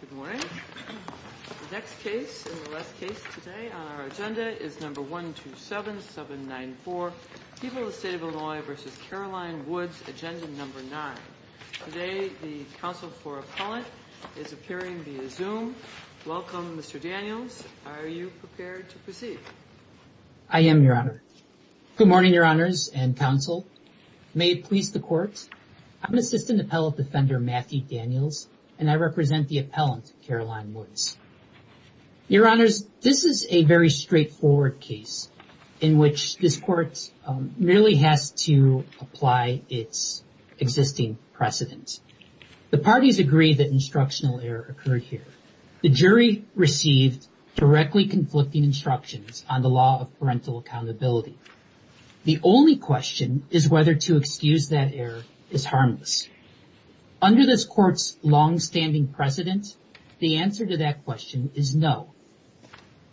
Good morning. The next case and the last case today on our agenda is number 127794, People of the State of Illinois v. Caroline Woods, agenda number nine. Today, the counsel for appellant is appearing via Zoom. Welcome, Mr. Daniels. Are you prepared to proceed? I am, Your Honor. Good morning, Your Honors and counsel. May it please the court. I'm Assistant Appellate Defender Matthew Daniels, and I represent the appellant, Caroline Woods. Your Honors, this is a very straightforward case in which this court merely has to apply its existing precedent. The parties agree that instructional error occurred here. The jury received directly conflicting instructions on the law of parental accountability. The only question is whether to excuse that error is harmless. Under this court's longstanding precedent, the answer to that question is no.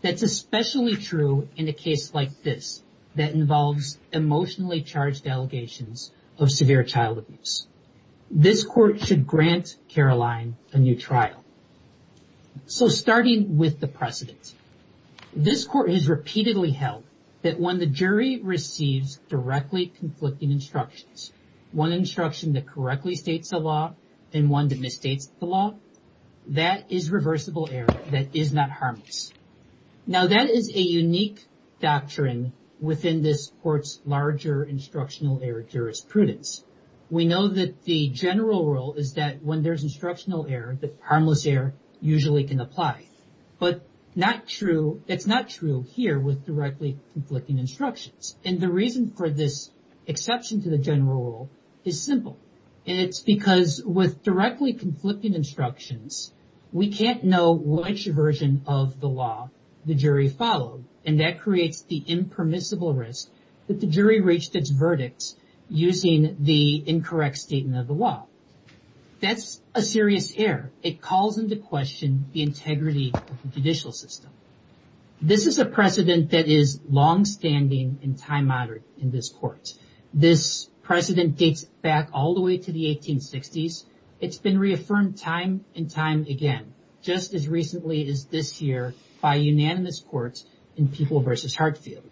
That's especially true in a case like this that involves emotionally charged allegations of severe child abuse. This court should grant Caroline a new trial. So starting with the precedent, this court has repeatedly held that when the jury receives directly conflicting instructions, one instruction that correctly states the law and one that misstates the law, that is reversible error, that is not harmless. Now, that is a unique doctrine within this court's larger instructional error jurisprudence. We know that the general rule is that when there's instructional error, the harmless error usually can apply, but it's not true here with directly conflicting instructions. And the reason for this exception to the general rule is simple, and it's because with directly conflicting instructions, we can't know which version of the law the jury followed, and that creates the impermissible risk that the jury reached its verdict using the incorrect statement of the law. That's a serious error. It calls into question the integrity of the judicial system. This is a precedent that is longstanding and time moderate in this court. This precedent dates back all the way to the 1860s. It's been reaffirmed time and time again, just as recently as this year by unanimous courts in People v. Hartfield.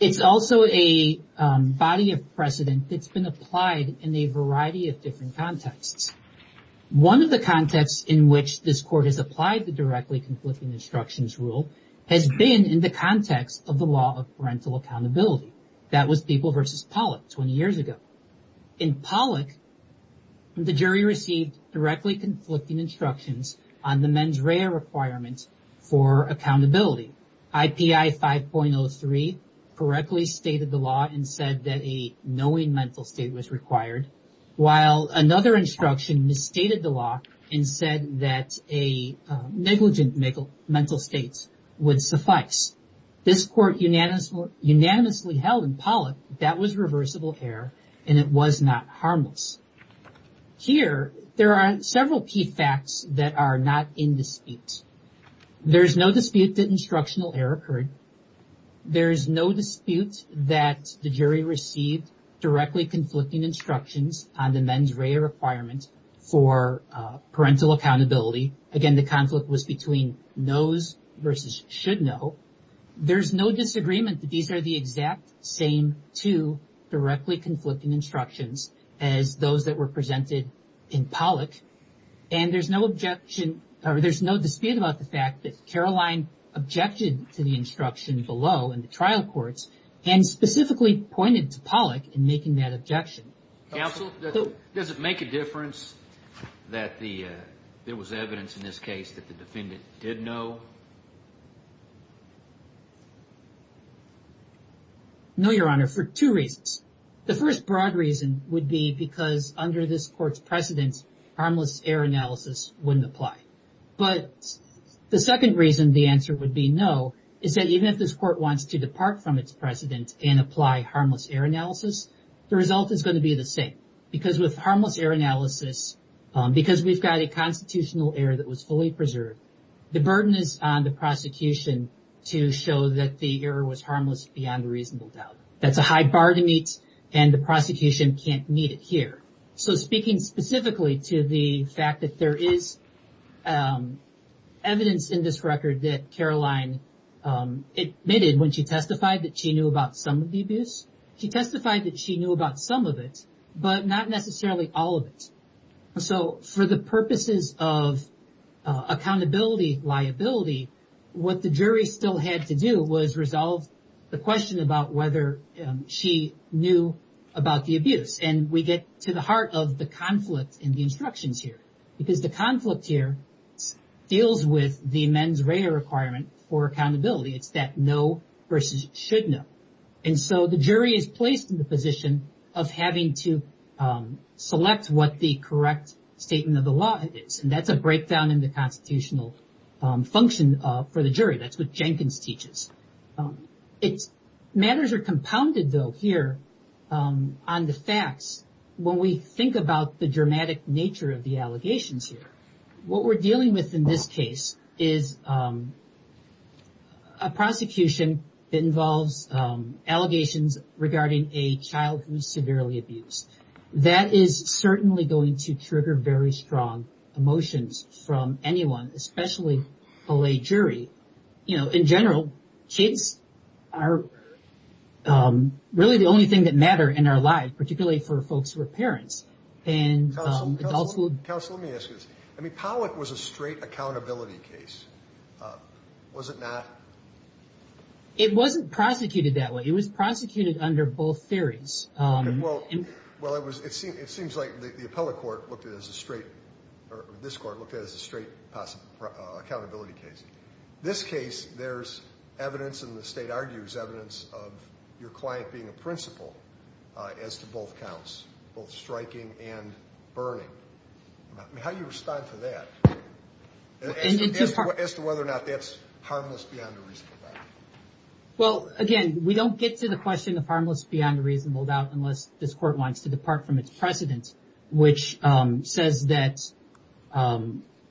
It's also a body of precedent that's been applied in a variety of different contexts. One of the contexts in which this court has applied the directly conflicting instructions rule has been in the context of the law of parental accountability. That was People v. Pollock 20 years ago. In Pollock, the jury received directly conflicting instructions on the mens rea requirement for accountability. IPI 5.03 correctly stated the law and said that a knowing mental state was required, while another instruction misstated the law and said that a negligent mental state would suffice. This court unanimously held in Pollock that was reversible error and it was not harmless. Here, there are several key facts that are not in dispute. There's no dispute that instructional error occurred. There's no dispute that the jury received directly conflicting instructions on the mens rea requirement for parental accountability. Again, the conflict was between knows versus should know. There's no disagreement that these are the exact same two directly conflicting instructions as those that were presented in Pollock. And there's no objection or there's no dispute about the fact that Caroline objected to the instruction below in the trial courts and specifically pointed to Pollock in making that objection. Counsel, does it make a difference that there was evidence in this case that the defendant did know? No, Your Honor, for two reasons. The first broad reason would be because under this court's precedence, harmless error analysis wouldn't apply. But the second reason the answer would be no is that even if this court wants to depart from its precedent and apply harmless error analysis, the result is going to be the same. Because with harmless error analysis, because we've got a constitutional error that was fully preserved, the burden is on the prosecution to show that the error was harmless beyond a reasonable doubt. That's a high bar to meet and the prosecution can't meet it here. So speaking specifically to the fact that there is evidence in this record that Caroline admitted when she testified that she knew about some of the abuse, she testified that she knew about some of it, but not necessarily all of it. So for the purposes of accountability liability, what the jury still had to do was resolve the question about whether she knew about the abuse. And we get to the heart of the conflict in the instructions here, because the conflict here deals with the mens rea requirement for accountability. It's that no versus should know. And so the jury is placed in the position of having to select what the correct statement of the law is. And that's a breakdown in the constitutional function for the jury. That's what Jenkins teaches. Matters are compounded, though, here on the facts. When we think about the dramatic nature of the allegations here, what we're dealing with in this case is a prosecution that involves allegations regarding a child who's severely abused. That is certainly going to trigger very strong emotions from anyone, especially a jury. You know, in general, kids are really the only thing that matter in our lives, particularly for folks who are parents and also counsel. Let me ask you this. I mean, Pollack was a straight accountability case. Was it not? It wasn't prosecuted that way. It was prosecuted under both theories. Well, it seems like the appellate court looked at it as a straight or this court looked at it as a straight accountability case. This case, there's evidence in the state argues evidence of your client being a principal as to both counts, both striking and burning. How do you respond to that? As to whether or not that's harmless beyond a reasonable doubt? Well, again, we don't get to the question of harmless beyond a reasonable doubt unless this court wants to depart from its precedent, which says that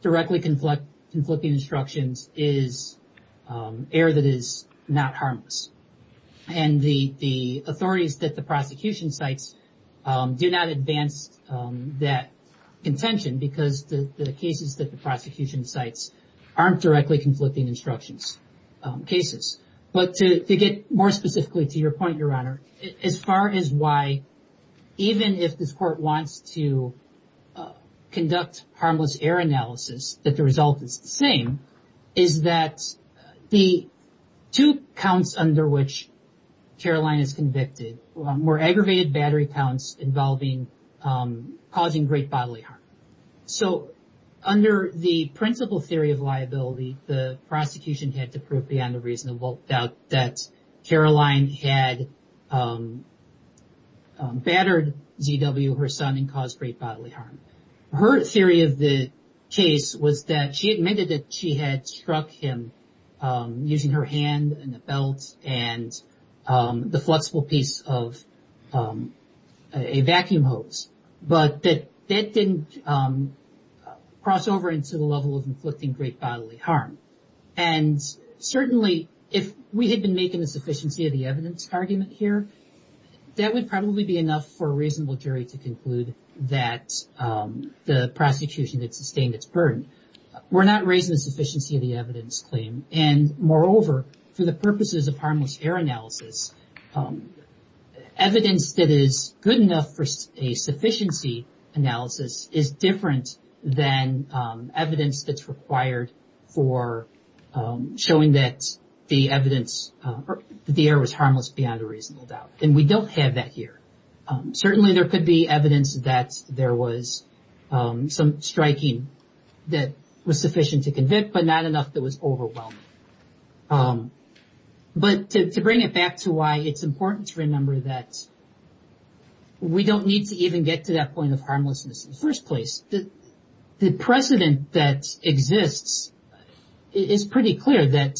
directly conflict conflicting instructions is air that is not harmless. And the authorities that the prosecution cites do not advance that contention because the cases that the prosecution cites aren't directly conflicting instructions cases. But to get more specifically to your point, Your Honor, as far as why, even if this court wants to conduct harmless air analysis, that the result is the same. is that the two counts under which Caroline is convicted were aggravated battery counts involving causing great bodily harm. So under the principal theory of liability, the prosecution had to prove beyond a reasonable doubt that Caroline had battered Z.W., her son, and caused great bodily harm. Her theory of the case was that she admitted that she had struck him using her hand and the belt and the flexible piece of a vacuum hose, but that that didn't cross over into the level of inflicting great bodily harm. And certainly, if we had been making the sufficiency of the evidence argument here, that would probably be enough for a reasonable jury to conclude that the prosecution that sustained its burden were not raising the sufficiency of the evidence claim. And moreover, for the purposes of harmless air analysis, evidence that is good enough for a sufficiency analysis is different than evidence that's required for showing that the evidence, the air was harmless beyond a reasonable doubt. And we don't have that here. Certainly, there could be evidence that there was some striking that was sufficient to convict, but not enough that was overwhelming. But to bring it back to why it's important to remember that we don't need to even get to that point of harmlessness in the first place. The precedent that exists is pretty clear that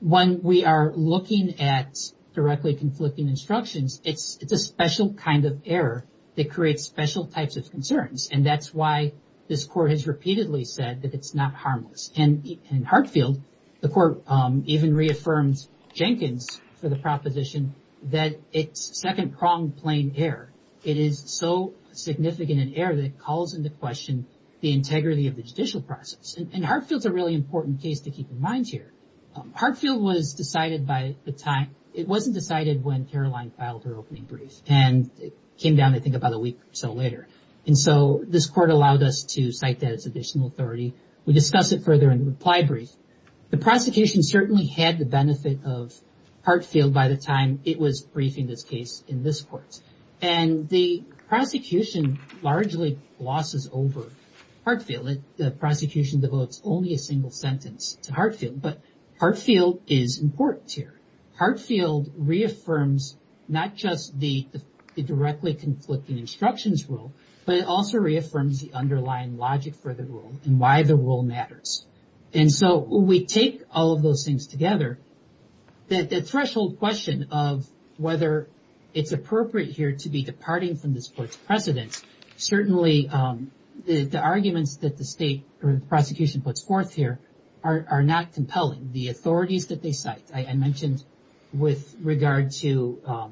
when we are looking at directly conflicting instructions, it's a special kind of error that creates special types of concerns. And that's why this court has repeatedly said that it's not harmless. And in Hartfield, the court even reaffirms Jenkins for the proposition that it's second pronged plain air. It is so significant an error that it calls into question the integrity of the judicial process. And Hartfield's a really important case to keep in mind here. Hartfield was decided by the time it wasn't decided when Caroline filed her opening brief and it came down, I think, about a week or so later. And so this court allowed us to cite that as additional authority. We discuss it further in the reply brief. The prosecution certainly had the benefit of Hartfield by the time it was briefing this case in this court. And the prosecution largely glosses over Hartfield. The prosecution devotes only a single sentence to Hartfield. But Hartfield is important here. Hartfield reaffirms not just the directly conflicting instructions rule, but it also reaffirms the underlying logic for the rule and why the rule matters. And so we take all of those things together. That threshold question of whether it's appropriate here to be departing from this court's precedence, certainly the arguments that the state prosecution puts forth here are not compelling. The authorities that they cite, I mentioned with regard to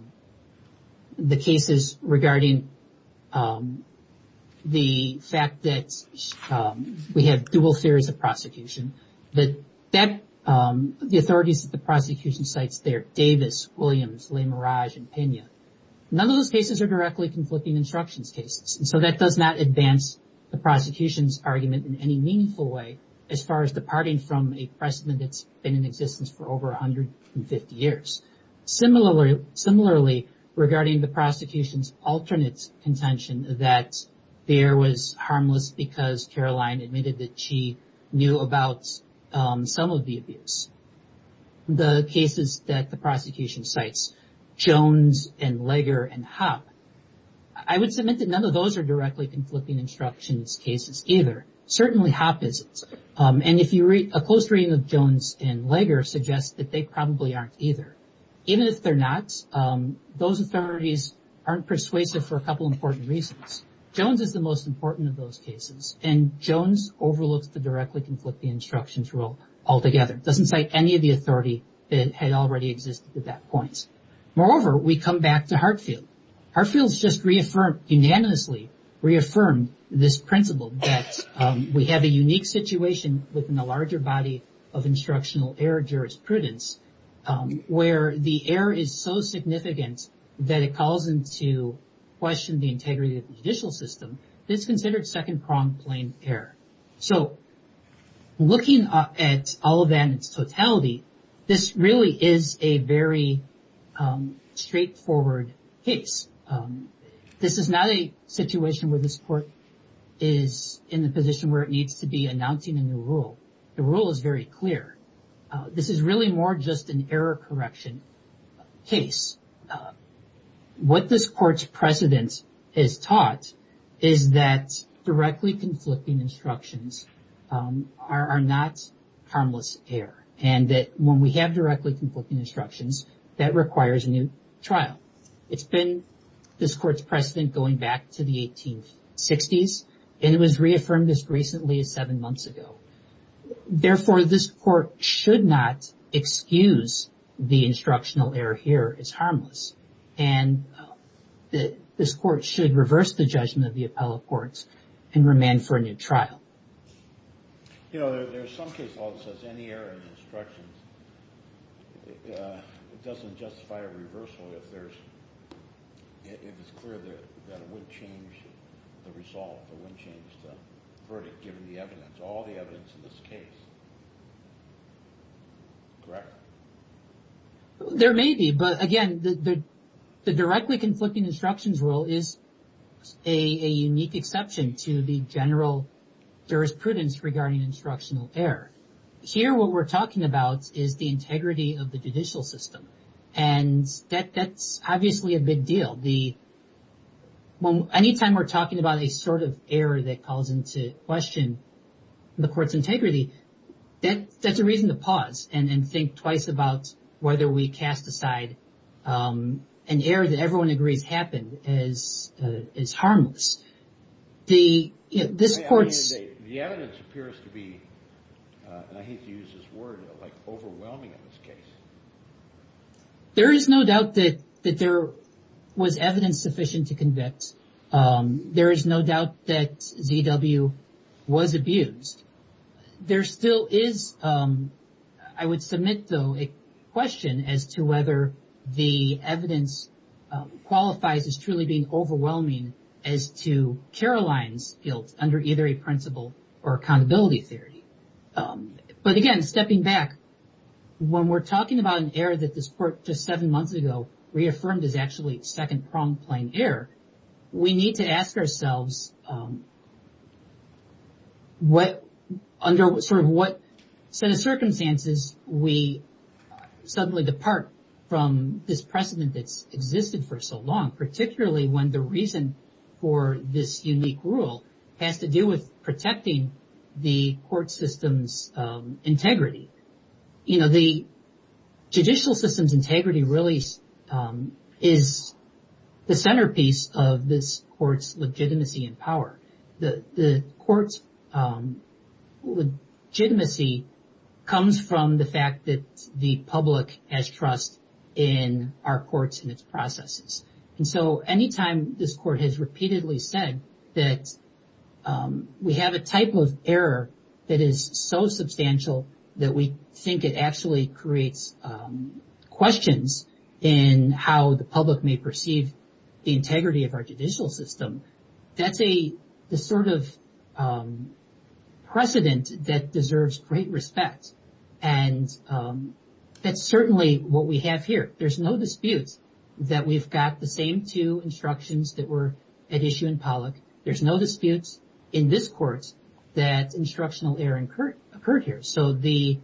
the cases regarding the fact that we have dual fears of prosecution. The authorities that the prosecution cites there, Davis, Williams, Le Mirage, and Pena, none of those cases are directly conflicting instructions cases. And so that does not advance the prosecution's argument in any meaningful way as far as departing from a precedent that's been in existence for over 150 years. Similarly, regarding the prosecution's alternate contention that Behr was harmless because Caroline admitted that she knew about some of the abuse. The cases that the prosecution cites, Jones and Leger and Hopp, I would submit that none of those are directly conflicting instructions cases either. Certainly Hopp isn't. And if you read a close reading of Jones and Leger suggests that they probably aren't either. Even if they're not, those authorities aren't persuasive for a couple important reasons. Jones is the most important of those cases, and Jones overlooks the directly conflicting instructions rule altogether. Doesn't cite any of the authority that had already existed at that point. Moreover, we come back to Hartfield. Hartfield's just reaffirmed, unanimously reaffirmed, this principle that we have a unique situation within the larger body of instructional error jurisprudence where the error is so significant that it calls into question the integrity of the judicial system that it's considered second-pronged plain error. So looking at all of that in its totality, this really is a very straightforward case. This is not a situation where this court is in the position where it needs to be announcing a new rule. The rule is very clear. This is really more just an error correction case. What this court's precedent has taught is that directly conflicting instructions are not harmless error, and that when we have directly conflicting instructions, that requires a new trial. It's been this court's precedent going back to the 1860s, and it was reaffirmed as recently as seven months ago. Therefore, this court should not excuse the instructional error here as harmless, and this court should reverse the judgment of the appellate courts and remand for a new trial. You know, there's some case law that says any error in instructions, it doesn't justify a reversal if it's clear that it would change the result, it wouldn't change the verdict given the evidence, all the evidence in this case. Correct? There may be, but again, the directly conflicting instructions rule is a unique exception to the general jurisprudence regarding instructional error. Here, what we're talking about is the integrity of the judicial system, and that's obviously a big deal. Anytime we're talking about a sort of error that calls into question the court's integrity, that's a reason to pause and think twice about whether we cast aside an error that everyone agrees happened as harmless. The evidence appears to be, and I hate to use this word, overwhelming in this case. There is no doubt that there was evidence sufficient to convict. There is no doubt that Z.W. was abused. There still is, I would submit, though, a question as to whether the evidence qualifies as truly being overwhelming as to Caroline's guilt under either a principle or accountability theory. But again, stepping back, when we're talking about an error that this court just seven months ago reaffirmed as actually second-pronged plain error, we need to ask ourselves under what set of circumstances we suddenly depart from this precedent that's existed for so long, particularly when the reason for this unique rule has to do with protecting the court system's integrity. The judicial system's integrity really is the centerpiece of this court's legitimacy and power. The court's legitimacy comes from the fact that the public has trust in our courts and its processes. And so any time this court has repeatedly said that we have a type of error that is so substantial that we think it actually creates questions in how the public may perceive the integrity of our judicial system, that's the sort of precedent that deserves great respect. And that's certainly what we have here. There's no dispute that we've got the same two instructions that were at issue in Pollock. There's no dispute in this court that instructional error occurred here. So the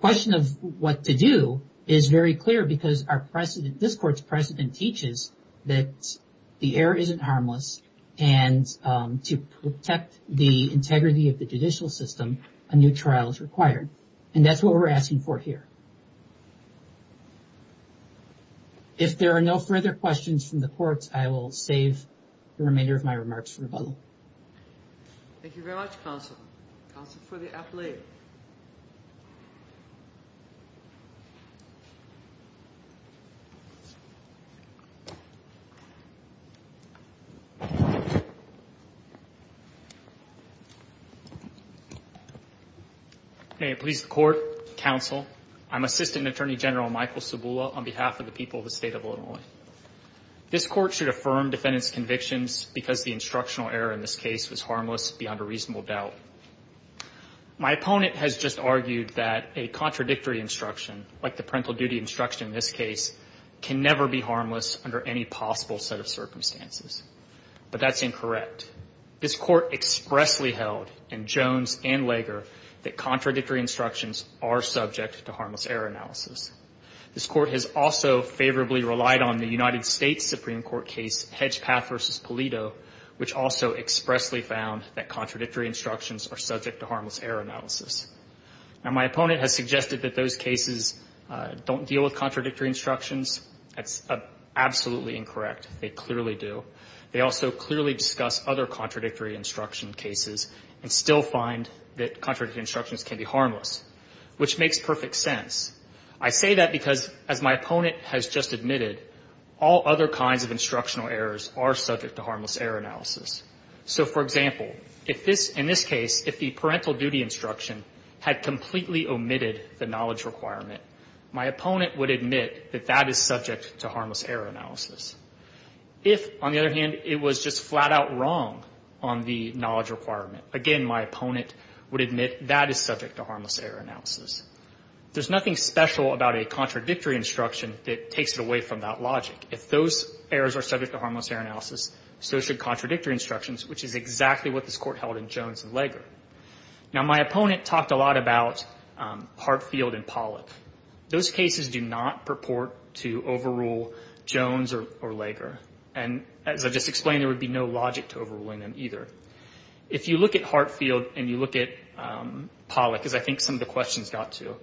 question of what to do is very clear, because this court's precedent teaches that the error isn't harmless, and to protect the integrity of the judicial system, a new trial is required. And that's what we're asking for here. If there are no further questions from the courts, I will save the remainder of my remarks for rebuttal. Thank you very much, counsel. Counsel for the appellate. Hey, please, court, counsel. I'm Assistant Attorney General Michael Sabula on behalf of the people of the state of Illinois. This court should affirm defendant's convictions because the instructional error in this case was harmless beyond a reasonable doubt. My opponent has just argued that a contradictory instruction, like the parental duty instruction in this case, can never be harmless under any possible set of circumstances. But that's incorrect. This court expressly held in Jones and Lager that contradictory instructions are subject to harmless error analysis. This court has also favorably relied on the United States Supreme Court case Hedgepath v. Polito, which also expressly found that contradictory instructions are subject to harmless error analysis. Now, my opponent has suggested that those cases don't deal with contradictory instructions. That's absolutely incorrect. They clearly do. They also clearly discuss other contradictory instruction cases and still find that contradictory instructions can be harmless, which makes perfect sense. I say that because, as my opponent has just admitted, all other kinds of instructional errors are subject to harmless error analysis. So, for example, in this case, if the parental duty instruction had completely omitted the knowledge requirement, my opponent would admit that that is subject to harmless error analysis. If, on the other hand, it was just flat-out wrong on the knowledge requirement, again, my opponent would admit that is subject to harmless error analysis. There's nothing special about a contradictory instruction that takes it away from that logic. If those errors are subject to harmless error analysis, so should contradictory instructions, which is exactly what this court held in Jones and Lager. Now, my opponent talked a lot about Hartfield and Pollack. Those cases do not purport to overrule Jones or Lager. And, as I just explained, there would be no logic to overruling them either. If you look at Hartfield and you look at Pollack, as I think some of the questions got to,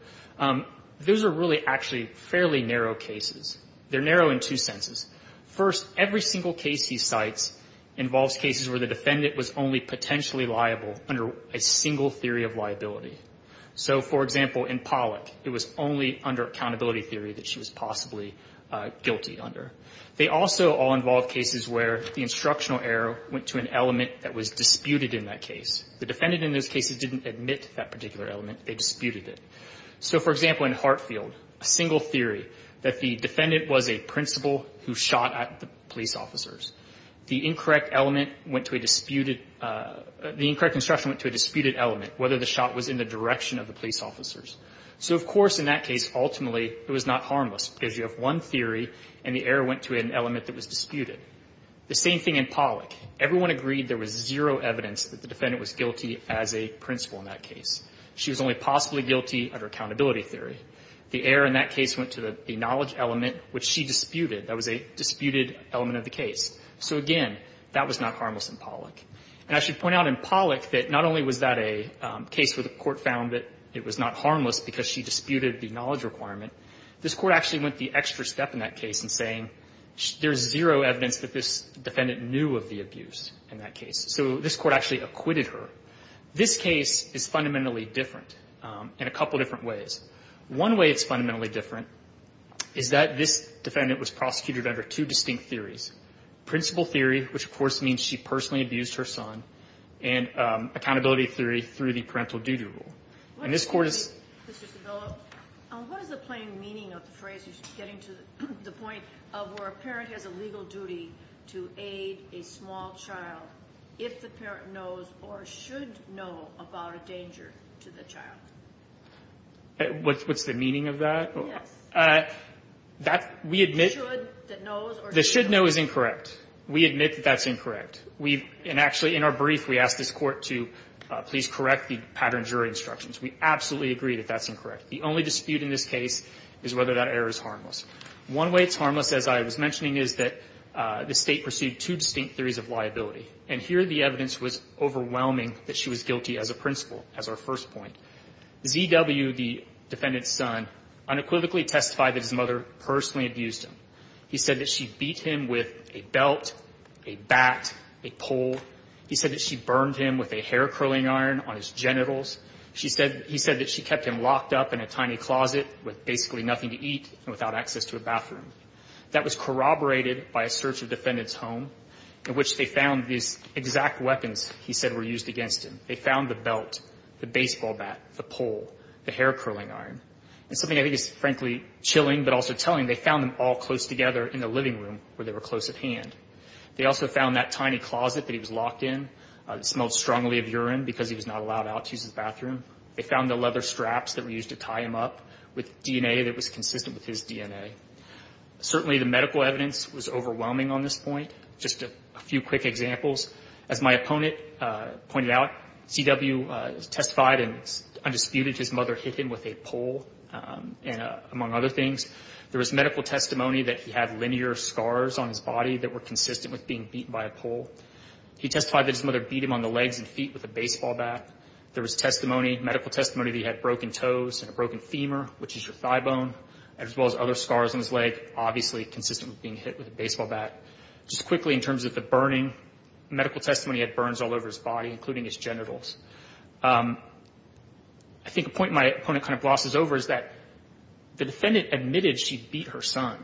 those are really actually fairly narrow cases. They're narrow in two senses. First, every single case he cites involves cases where the defendant was only potentially liable under a single theory of liability. So, for example, in Pollack, it was only under accountability theory that she was possibly guilty under. They also all involve cases where the instructional error went to an element that was disputed in that case. The defendant in those cases didn't admit that particular element. They disputed it. So, for example, in Hartfield, a single theory that the defendant was a principal who shot at the police officers. The incorrect element went to a disputed the incorrect instruction went to a disputed element, whether the shot was in the direction of the police officers. So, of course, in that case, ultimately, it was not harmless, because you have one theory and the error went to an element that was disputed. The same thing in Pollack. Everyone agreed there was zero evidence that the defendant was guilty as a principal in that case. She was only possibly guilty under accountability theory. The error in that case went to the knowledge element, which she disputed. That was a disputed element of the case. So, again, that was not harmless in Pollack. And I should point out in Pollack that not only was that a case where the court found that it was not harmless because she disputed the knowledge requirement, this Court actually went the extra step in that case in saying there's zero evidence that this defendant knew of the abuse in that case. So this Court actually acquitted her. This case is fundamentally different in a couple different ways. One way it's fundamentally different is that this defendant was prosecuted under two distinct theories. Principle theory, which, of course, means she personally abused her son, and accountability theory through the parental duty rule. And this Court has ---- Kagan. Mr. Sabello, what is the plain meaning of the phrase you're getting to, the point of where a parent has a legal duty to aid a small child if the parent knows or should know about a danger to the child? Sabello. What's the meaning of that? Kagan. Yes. We admit that should know is incorrect. We admit that that's incorrect. We've been actually in our brief, we asked this Court to please correct the pattern jury instructions. We absolutely agree that that's incorrect. The only dispute in this case is whether that error is harmless. One way it's harmless, as I was mentioning, is that the State pursued two distinct theories of liability. And here the evidence was overwhelming that she was guilty as a principal, as our first point. Z.W., the defendant's son, unequivocally testified that his mother personally abused him. He said that she beat him with a belt, a bat, a pole. He said that she burned him with a hair-curling iron on his genitals. She said he said that she kept him locked up in a tiny closet with basically nothing to eat and without access to a bathroom. That was corroborated by a search of the defendant's home in which they found these exact weapons he said were used against him. They found the belt, the baseball bat, the pole, the hair-curling iron. And something I think is, frankly, chilling but also telling, they found them all close together in the living room where they were close at hand. They also found that tiny closet that he was locked in. It smelled strongly of urine because he was not allowed out to use the bathroom. They found the leather straps that were used to tie him up with DNA that was consistent with his DNA. Certainly the medical evidence was overwhelming on this point. Just a few quick examples. As my opponent pointed out, Z.W. testified and undisputed his mother hit him with a pole, among other things. There was medical testimony that he had linear scars on his body that were consistent with being beaten by a pole. He testified that his mother beat him on the legs and feet with a baseball bat. There was testimony, medical testimony, that he had broken toes and a broken femur, which is your thigh bone, as well as other scars on his leg, obviously consistent with being hit with a baseball bat. Just quickly in terms of the burning, medical testimony, he had burns all over his body, including his genitals. I think a point my opponent kind of glosses over is that the defendant admitted she beat her son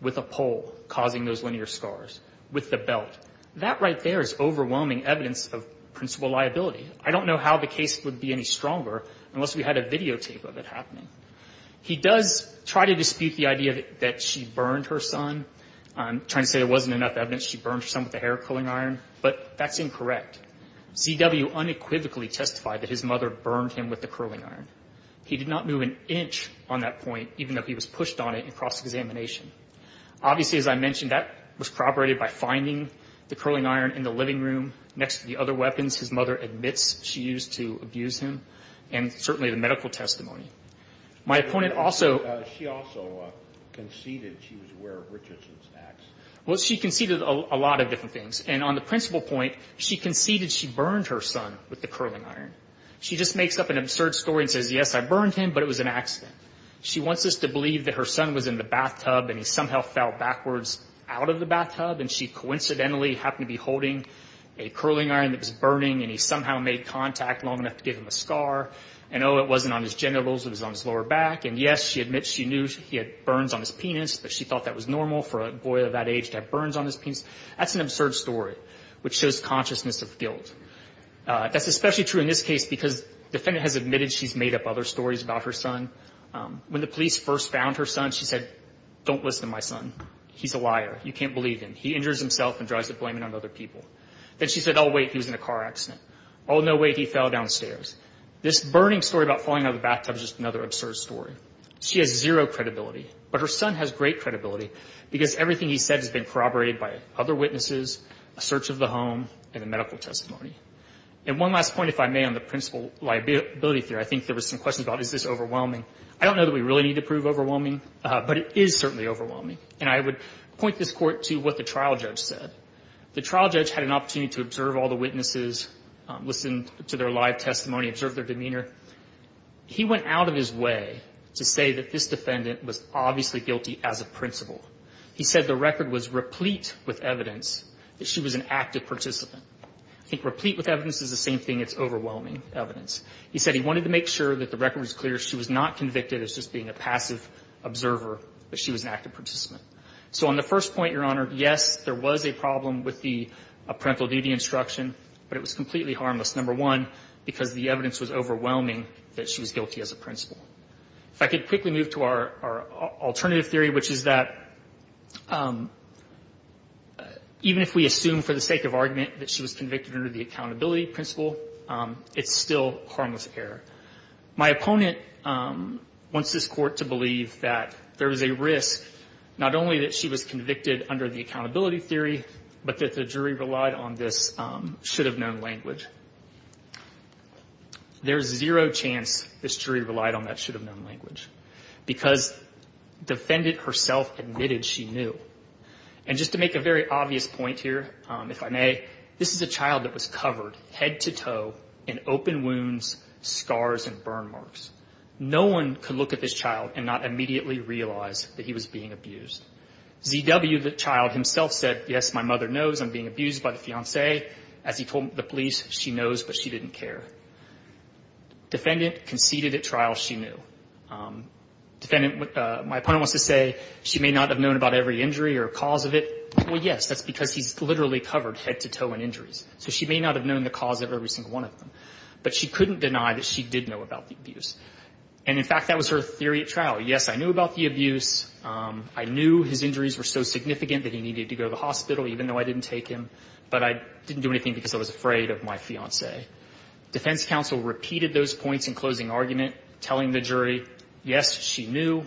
with a pole, causing those linear scars, with the belt. That right there is overwhelming evidence of principal liability. I don't know how the case would be any stronger unless we had a videotape of it happening. He does try to dispute the idea that she burned her son. I'm trying to say there wasn't enough evidence she burned her son with a hair culling iron, but that's incorrect. Z.W. unequivocally testified that his mother burned him with the curling iron. He did not move an inch on that point, even though he was pushed on it in cross-examination. Obviously, as I mentioned, that was corroborated by finding the curling iron in the living room next to the other weapons his mother admits she used to abuse him, and certainly the medical testimony. My opponent also ---- She also conceded she was aware of Richardson's acts. Well, she conceded a lot of different things. And on the principal point, she conceded she burned her son with the curling iron. She just makes up an absurd story and says, yes, I burned him, but it was an accident. She wants us to believe that her son was in the bathtub and he somehow fell backwards out of the bathtub, and she coincidentally happened to be holding a curling iron that was burning, and he somehow made contact long enough to give him a scar, and, oh, it wasn't on his genitals. It was on his lower back. And, yes, she admits she knew he had burns on his penis, but she thought that was normal for a boy of that age to have burns on his penis. That's an absurd story, which shows consciousness of guilt. That's especially true in this case because the defendant has admitted she's made up other stories about her son. When the police first found her son, she said, don't listen to my son. He's a liar. You can't believe him. He injures himself and drives the blame on other people. Then she said, oh, wait, he was in a car accident. Oh, no, wait, he fell downstairs. This burning story about falling out of the bathtub is just another absurd story. She has zero credibility, but her son has great credibility because everything he said has been corroborated by other witnesses, a search of the home, and a medical testimony. And one last point, if I may, on the principal liability theory. I think there were some questions about is this overwhelming. I don't know that we really need to prove overwhelming, but it is certainly overwhelming. And I would point this Court to what the trial judge said. The trial judge had an opportunity to observe all the witnesses, listen to their live testimony, observe their demeanor. He went out of his way to say that this defendant was obviously guilty as a principal. He said the record was replete with evidence that she was an active participant. I think replete with evidence is the same thing. It's overwhelming evidence. He said he wanted to make sure that the record was clear. She was not convicted as just being a passive observer, but she was an active participant. So on the first point, Your Honor, yes, there was a problem with the parental duty instruction, but it was completely harmless, number one, because the evidence was overwhelming that she was guilty as a principal. If I could quickly move to our alternative theory, which is that even if we assume for the sake of argument that she was convicted under the accountability principle, it's still harmless error. My opponent wants this Court to believe that there is a risk, not only that she was convicted under the accountability theory, but that the jury relied on this should-have-known language. There's zero chance this jury relied on that should-have-known language because defendant herself admitted she knew. And just to make a very obvious point here, if I may, this is a child that was covered head to toe in open wounds, scars, and burn marks. No one could look at this child and not immediately realize that he was being abused. Z.W., the child, himself said, yes, my mother knows I'm being abused by the police. She knows, but she didn't care. Defendant conceded at trial she knew. Defendant, my opponent wants to say she may not have known about every injury or cause of it. Well, yes, that's because he's literally covered head to toe in injuries. So she may not have known the cause of every single one of them. But she couldn't deny that she did know about the abuse. And, in fact, that was her theory at trial. Yes, I knew about the abuse. I knew his injuries were so significant that he needed to go to the hospital, even though I didn't take him. But I didn't do anything because I was afraid of my fiancé. Defense counsel repeated those points in closing argument, telling the jury, yes, she knew.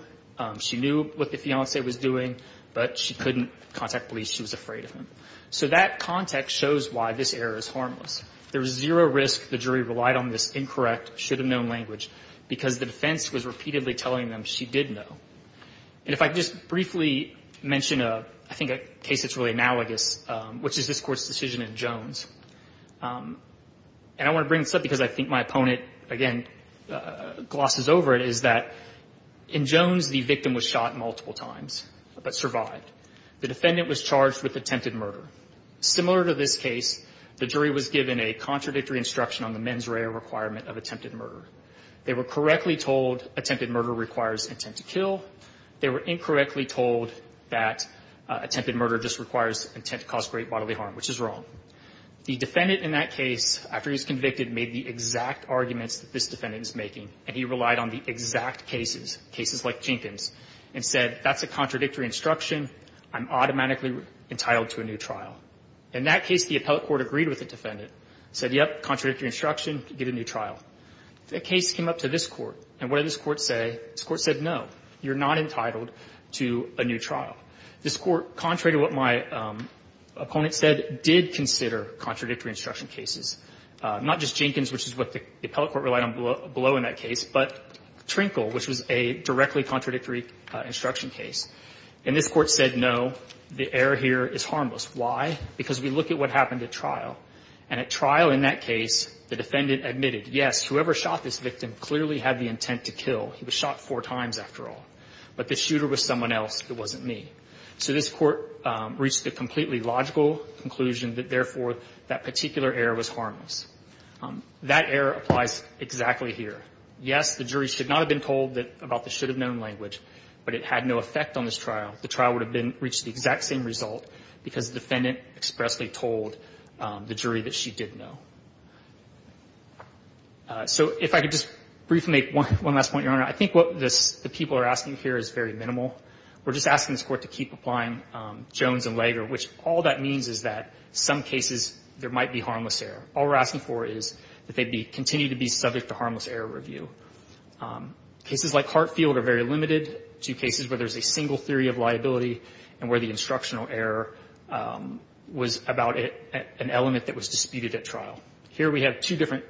She knew what the fiancé was doing. But she couldn't contact police. She was afraid of him. So that context shows why this error is harmless. There was zero risk the jury relied on this incorrect, should have known language, because the defense was repeatedly telling them she did know. And if I could just briefly mention, I think, a case that's really analogous, which is this Court's decision in Jones. And I want to bring this up because I think my opponent, again, glosses over it, is that in Jones, the victim was shot multiple times but survived. The defendant was charged with attempted murder. Similar to this case, the jury was given a contradictory instruction on the mens rea requirement of attempted murder. They were correctly told attempted murder requires intent to kill. They were incorrectly told that attempted murder just requires intent to cause great bodily harm, which is wrong. The defendant in that case, after he was convicted, made the exact arguments that this defendant was making. And he relied on the exact cases, cases like Jenkins, and said, that's a contradictory instruction. I'm automatically entitled to a new trial. In that case, the appellate court agreed with the defendant, said, yep, contradictory instruction, get a new trial. The case came up to this Court. And what did this Court say? This Court said, no, you're not entitled to a new trial. This Court, contrary to what my opponent said, did consider contradictory instruction cases, not just Jenkins, which is what the appellate court relied on below in that case, but Trinkle, which was a directly contradictory instruction case. And this Court said, no, the error here is harmless. Why? Because we look at what happened at trial. And at trial in that case, the defendant admitted, yes, whoever shot this victim clearly had the intent to kill. He was shot four times, after all. But the shooter was someone else. It wasn't me. So this Court reached a completely logical conclusion that, therefore, that particular error was harmless. That error applies exactly here. Yes, the jury should not have been told about the should-have-known language, but it had no effect on this trial. The trial would have reached the exact same result because the defendant expressly told the jury that she did know. So if I could just briefly make one last point, Your Honor. I think what the people are asking here is very minimal. We're just asking this Court to keep applying Jones and Lager, which all that means is that some cases there might be harmless error. All we're asking for is that they continue to be subject to harmless error review. Cases like Hartfield are very limited to cases where there's a single theory of liability and where the instructional error was about an element that was disputed at trial. Here we have two different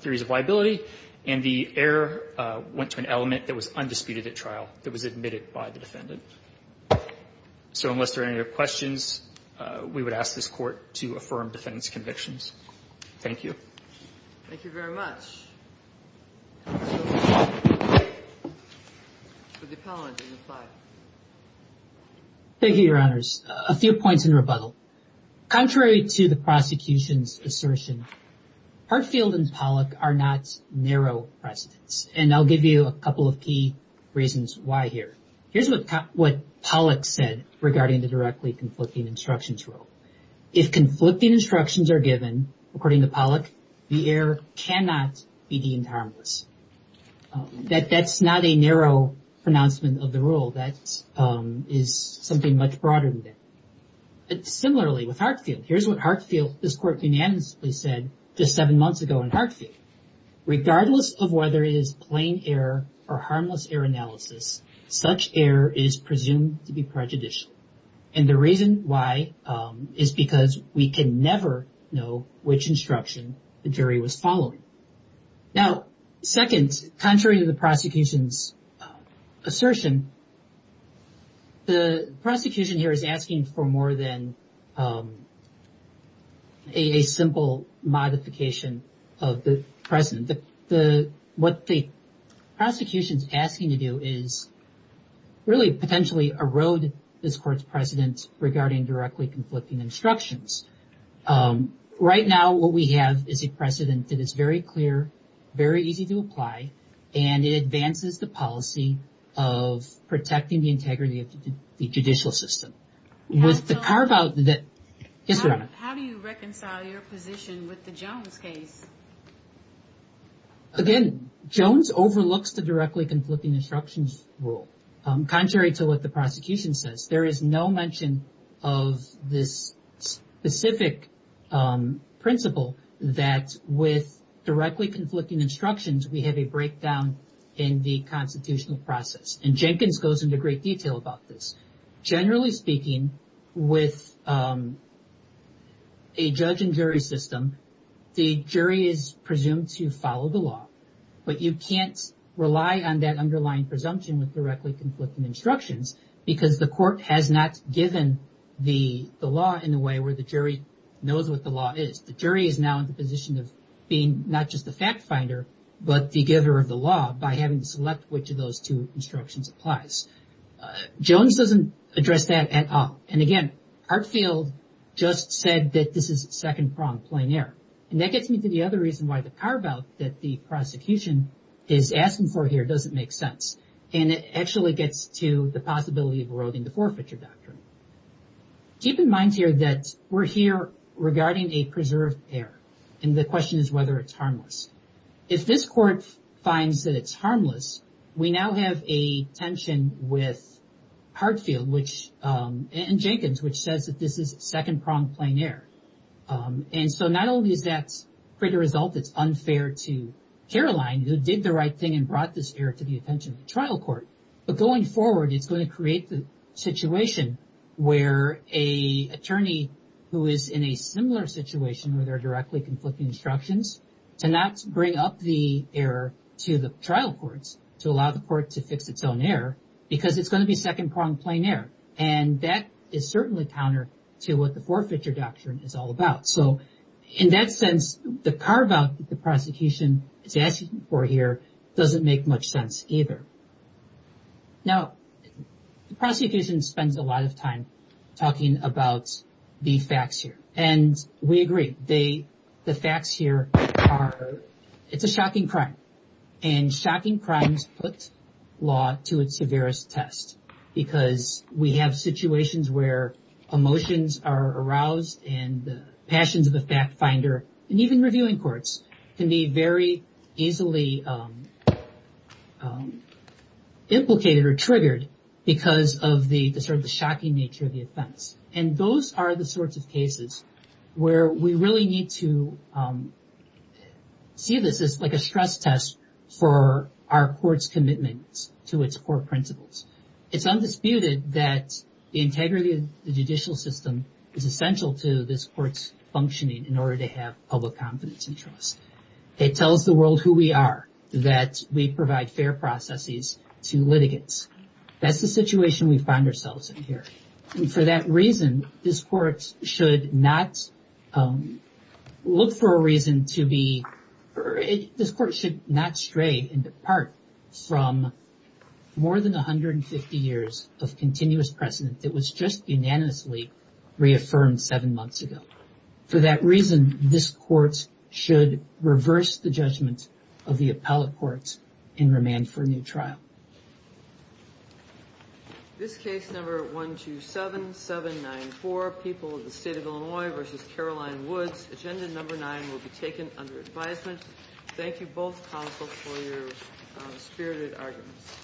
theories of liability, and the error went to an element that was undisputed at trial, that was admitted by the defendant. So unless there are any other questions, we would ask this Court to affirm defendant's convictions. Thank you. Thank you very much. Thank you, Your Honors. A few points in rebuttal. Contrary to the prosecution's assertion, Hartfield and Pollack are not narrow precedents, and I'll give you a couple of key reasons why here. Here's what Pollack said regarding the directly conflicting instructions rule. If conflicting instructions are given, according to Pollack, the error cannot be deemed harmless. That's not a narrow pronouncement of the rule. That is something much broader than that. Similarly with Hartfield, here's what Hartfield, this Court unanimously said just seven months ago in Hartfield. Regardless of whether it is plain error or harmless error analysis, such error is presumed to be prejudicial. And the reason why is because we can never know which instruction the jury was following. Now, second, contrary to the prosecution's assertion, the prosecution here is asking for more than a simple modification of the precedent. What the prosecution is asking to do is really potentially erode this Court's precedents regarding directly conflicting instructions. Right now, what we have is a precedent that is very clear, very easy to apply, and it advances the policy of protecting the integrity of the judicial system. How do you reconcile your position with the Jones case? Again, Jones overlooks the directly conflicting instructions rule. Contrary to what the prosecution says, there is no mention of this specific principle that with directly conflicting instructions, we have a breakdown in the constitutional process. And Jenkins goes into great detail about this. Generally speaking, with a judge and jury system, the jury is presumed to follow the law, but you can't rely on that underlying presumption with directly conflicting instructions because the Court has not given the law in the way where the jury knows what the law is. The jury is now in the position of being not just the fact finder, but the giver of the law by having to select which of those two instructions applies. Jones doesn't address that at all. And again, Hartfield just said that this is second-pronged, plain error. And that gets me to the other reason why the carve-out that the prosecution is asking for here doesn't make sense. And it actually gets to the possibility of eroding the forfeiture doctrine. Keep in mind here that we're here regarding a preserved error, and the question is whether it's harmless. If this Court finds that it's harmless, we now have a tension with Hartfield and Jenkins, which says that this is second-pronged, plain error. And so not only does that create a result that's unfair to Caroline, who did the right thing and brought this error to the attention of the trial court, but going forward, it's going to create the situation where an attorney who is in a similar situation where there cannot bring up the error to the trial courts to allow the court to fix its own error because it's going to be second-pronged, plain error. And that is certainly counter to what the forfeiture doctrine is all about. So in that sense, the carve-out that the prosecution is asking for here doesn't make much sense either. Now, the prosecution spends a lot of time talking about the facts here. And we agree. The facts here are it's a shocking crime, and shocking crimes put law to its severest test because we have situations where emotions are aroused and the passions of the fact-finder and even reviewing courts can be very easily implicated or triggered because of the sort of the shocking nature of the offense. And those are the sorts of cases where we really need to see this as like a stress test for our court's commitment to its core principles. It's undisputed that the integrity of the judicial system is essential to this court's functioning in order to have public confidence and trust. It tells the world who we are, that we provide fair processes to litigants. That's the situation we find ourselves in here. And for that reason, this court should not look for a reason to be, this court should not stray and depart from more than 150 years of continuous precedent that was just unanimously reaffirmed seven months ago. For that reason, this court should reverse the judgment of the appellate courts and remand for a new trial. This case number 127794, People of the State of Illinois v. Caroline Woods. Agenda number nine will be taken under advisement. Thank you both counsel for your spirited arguments.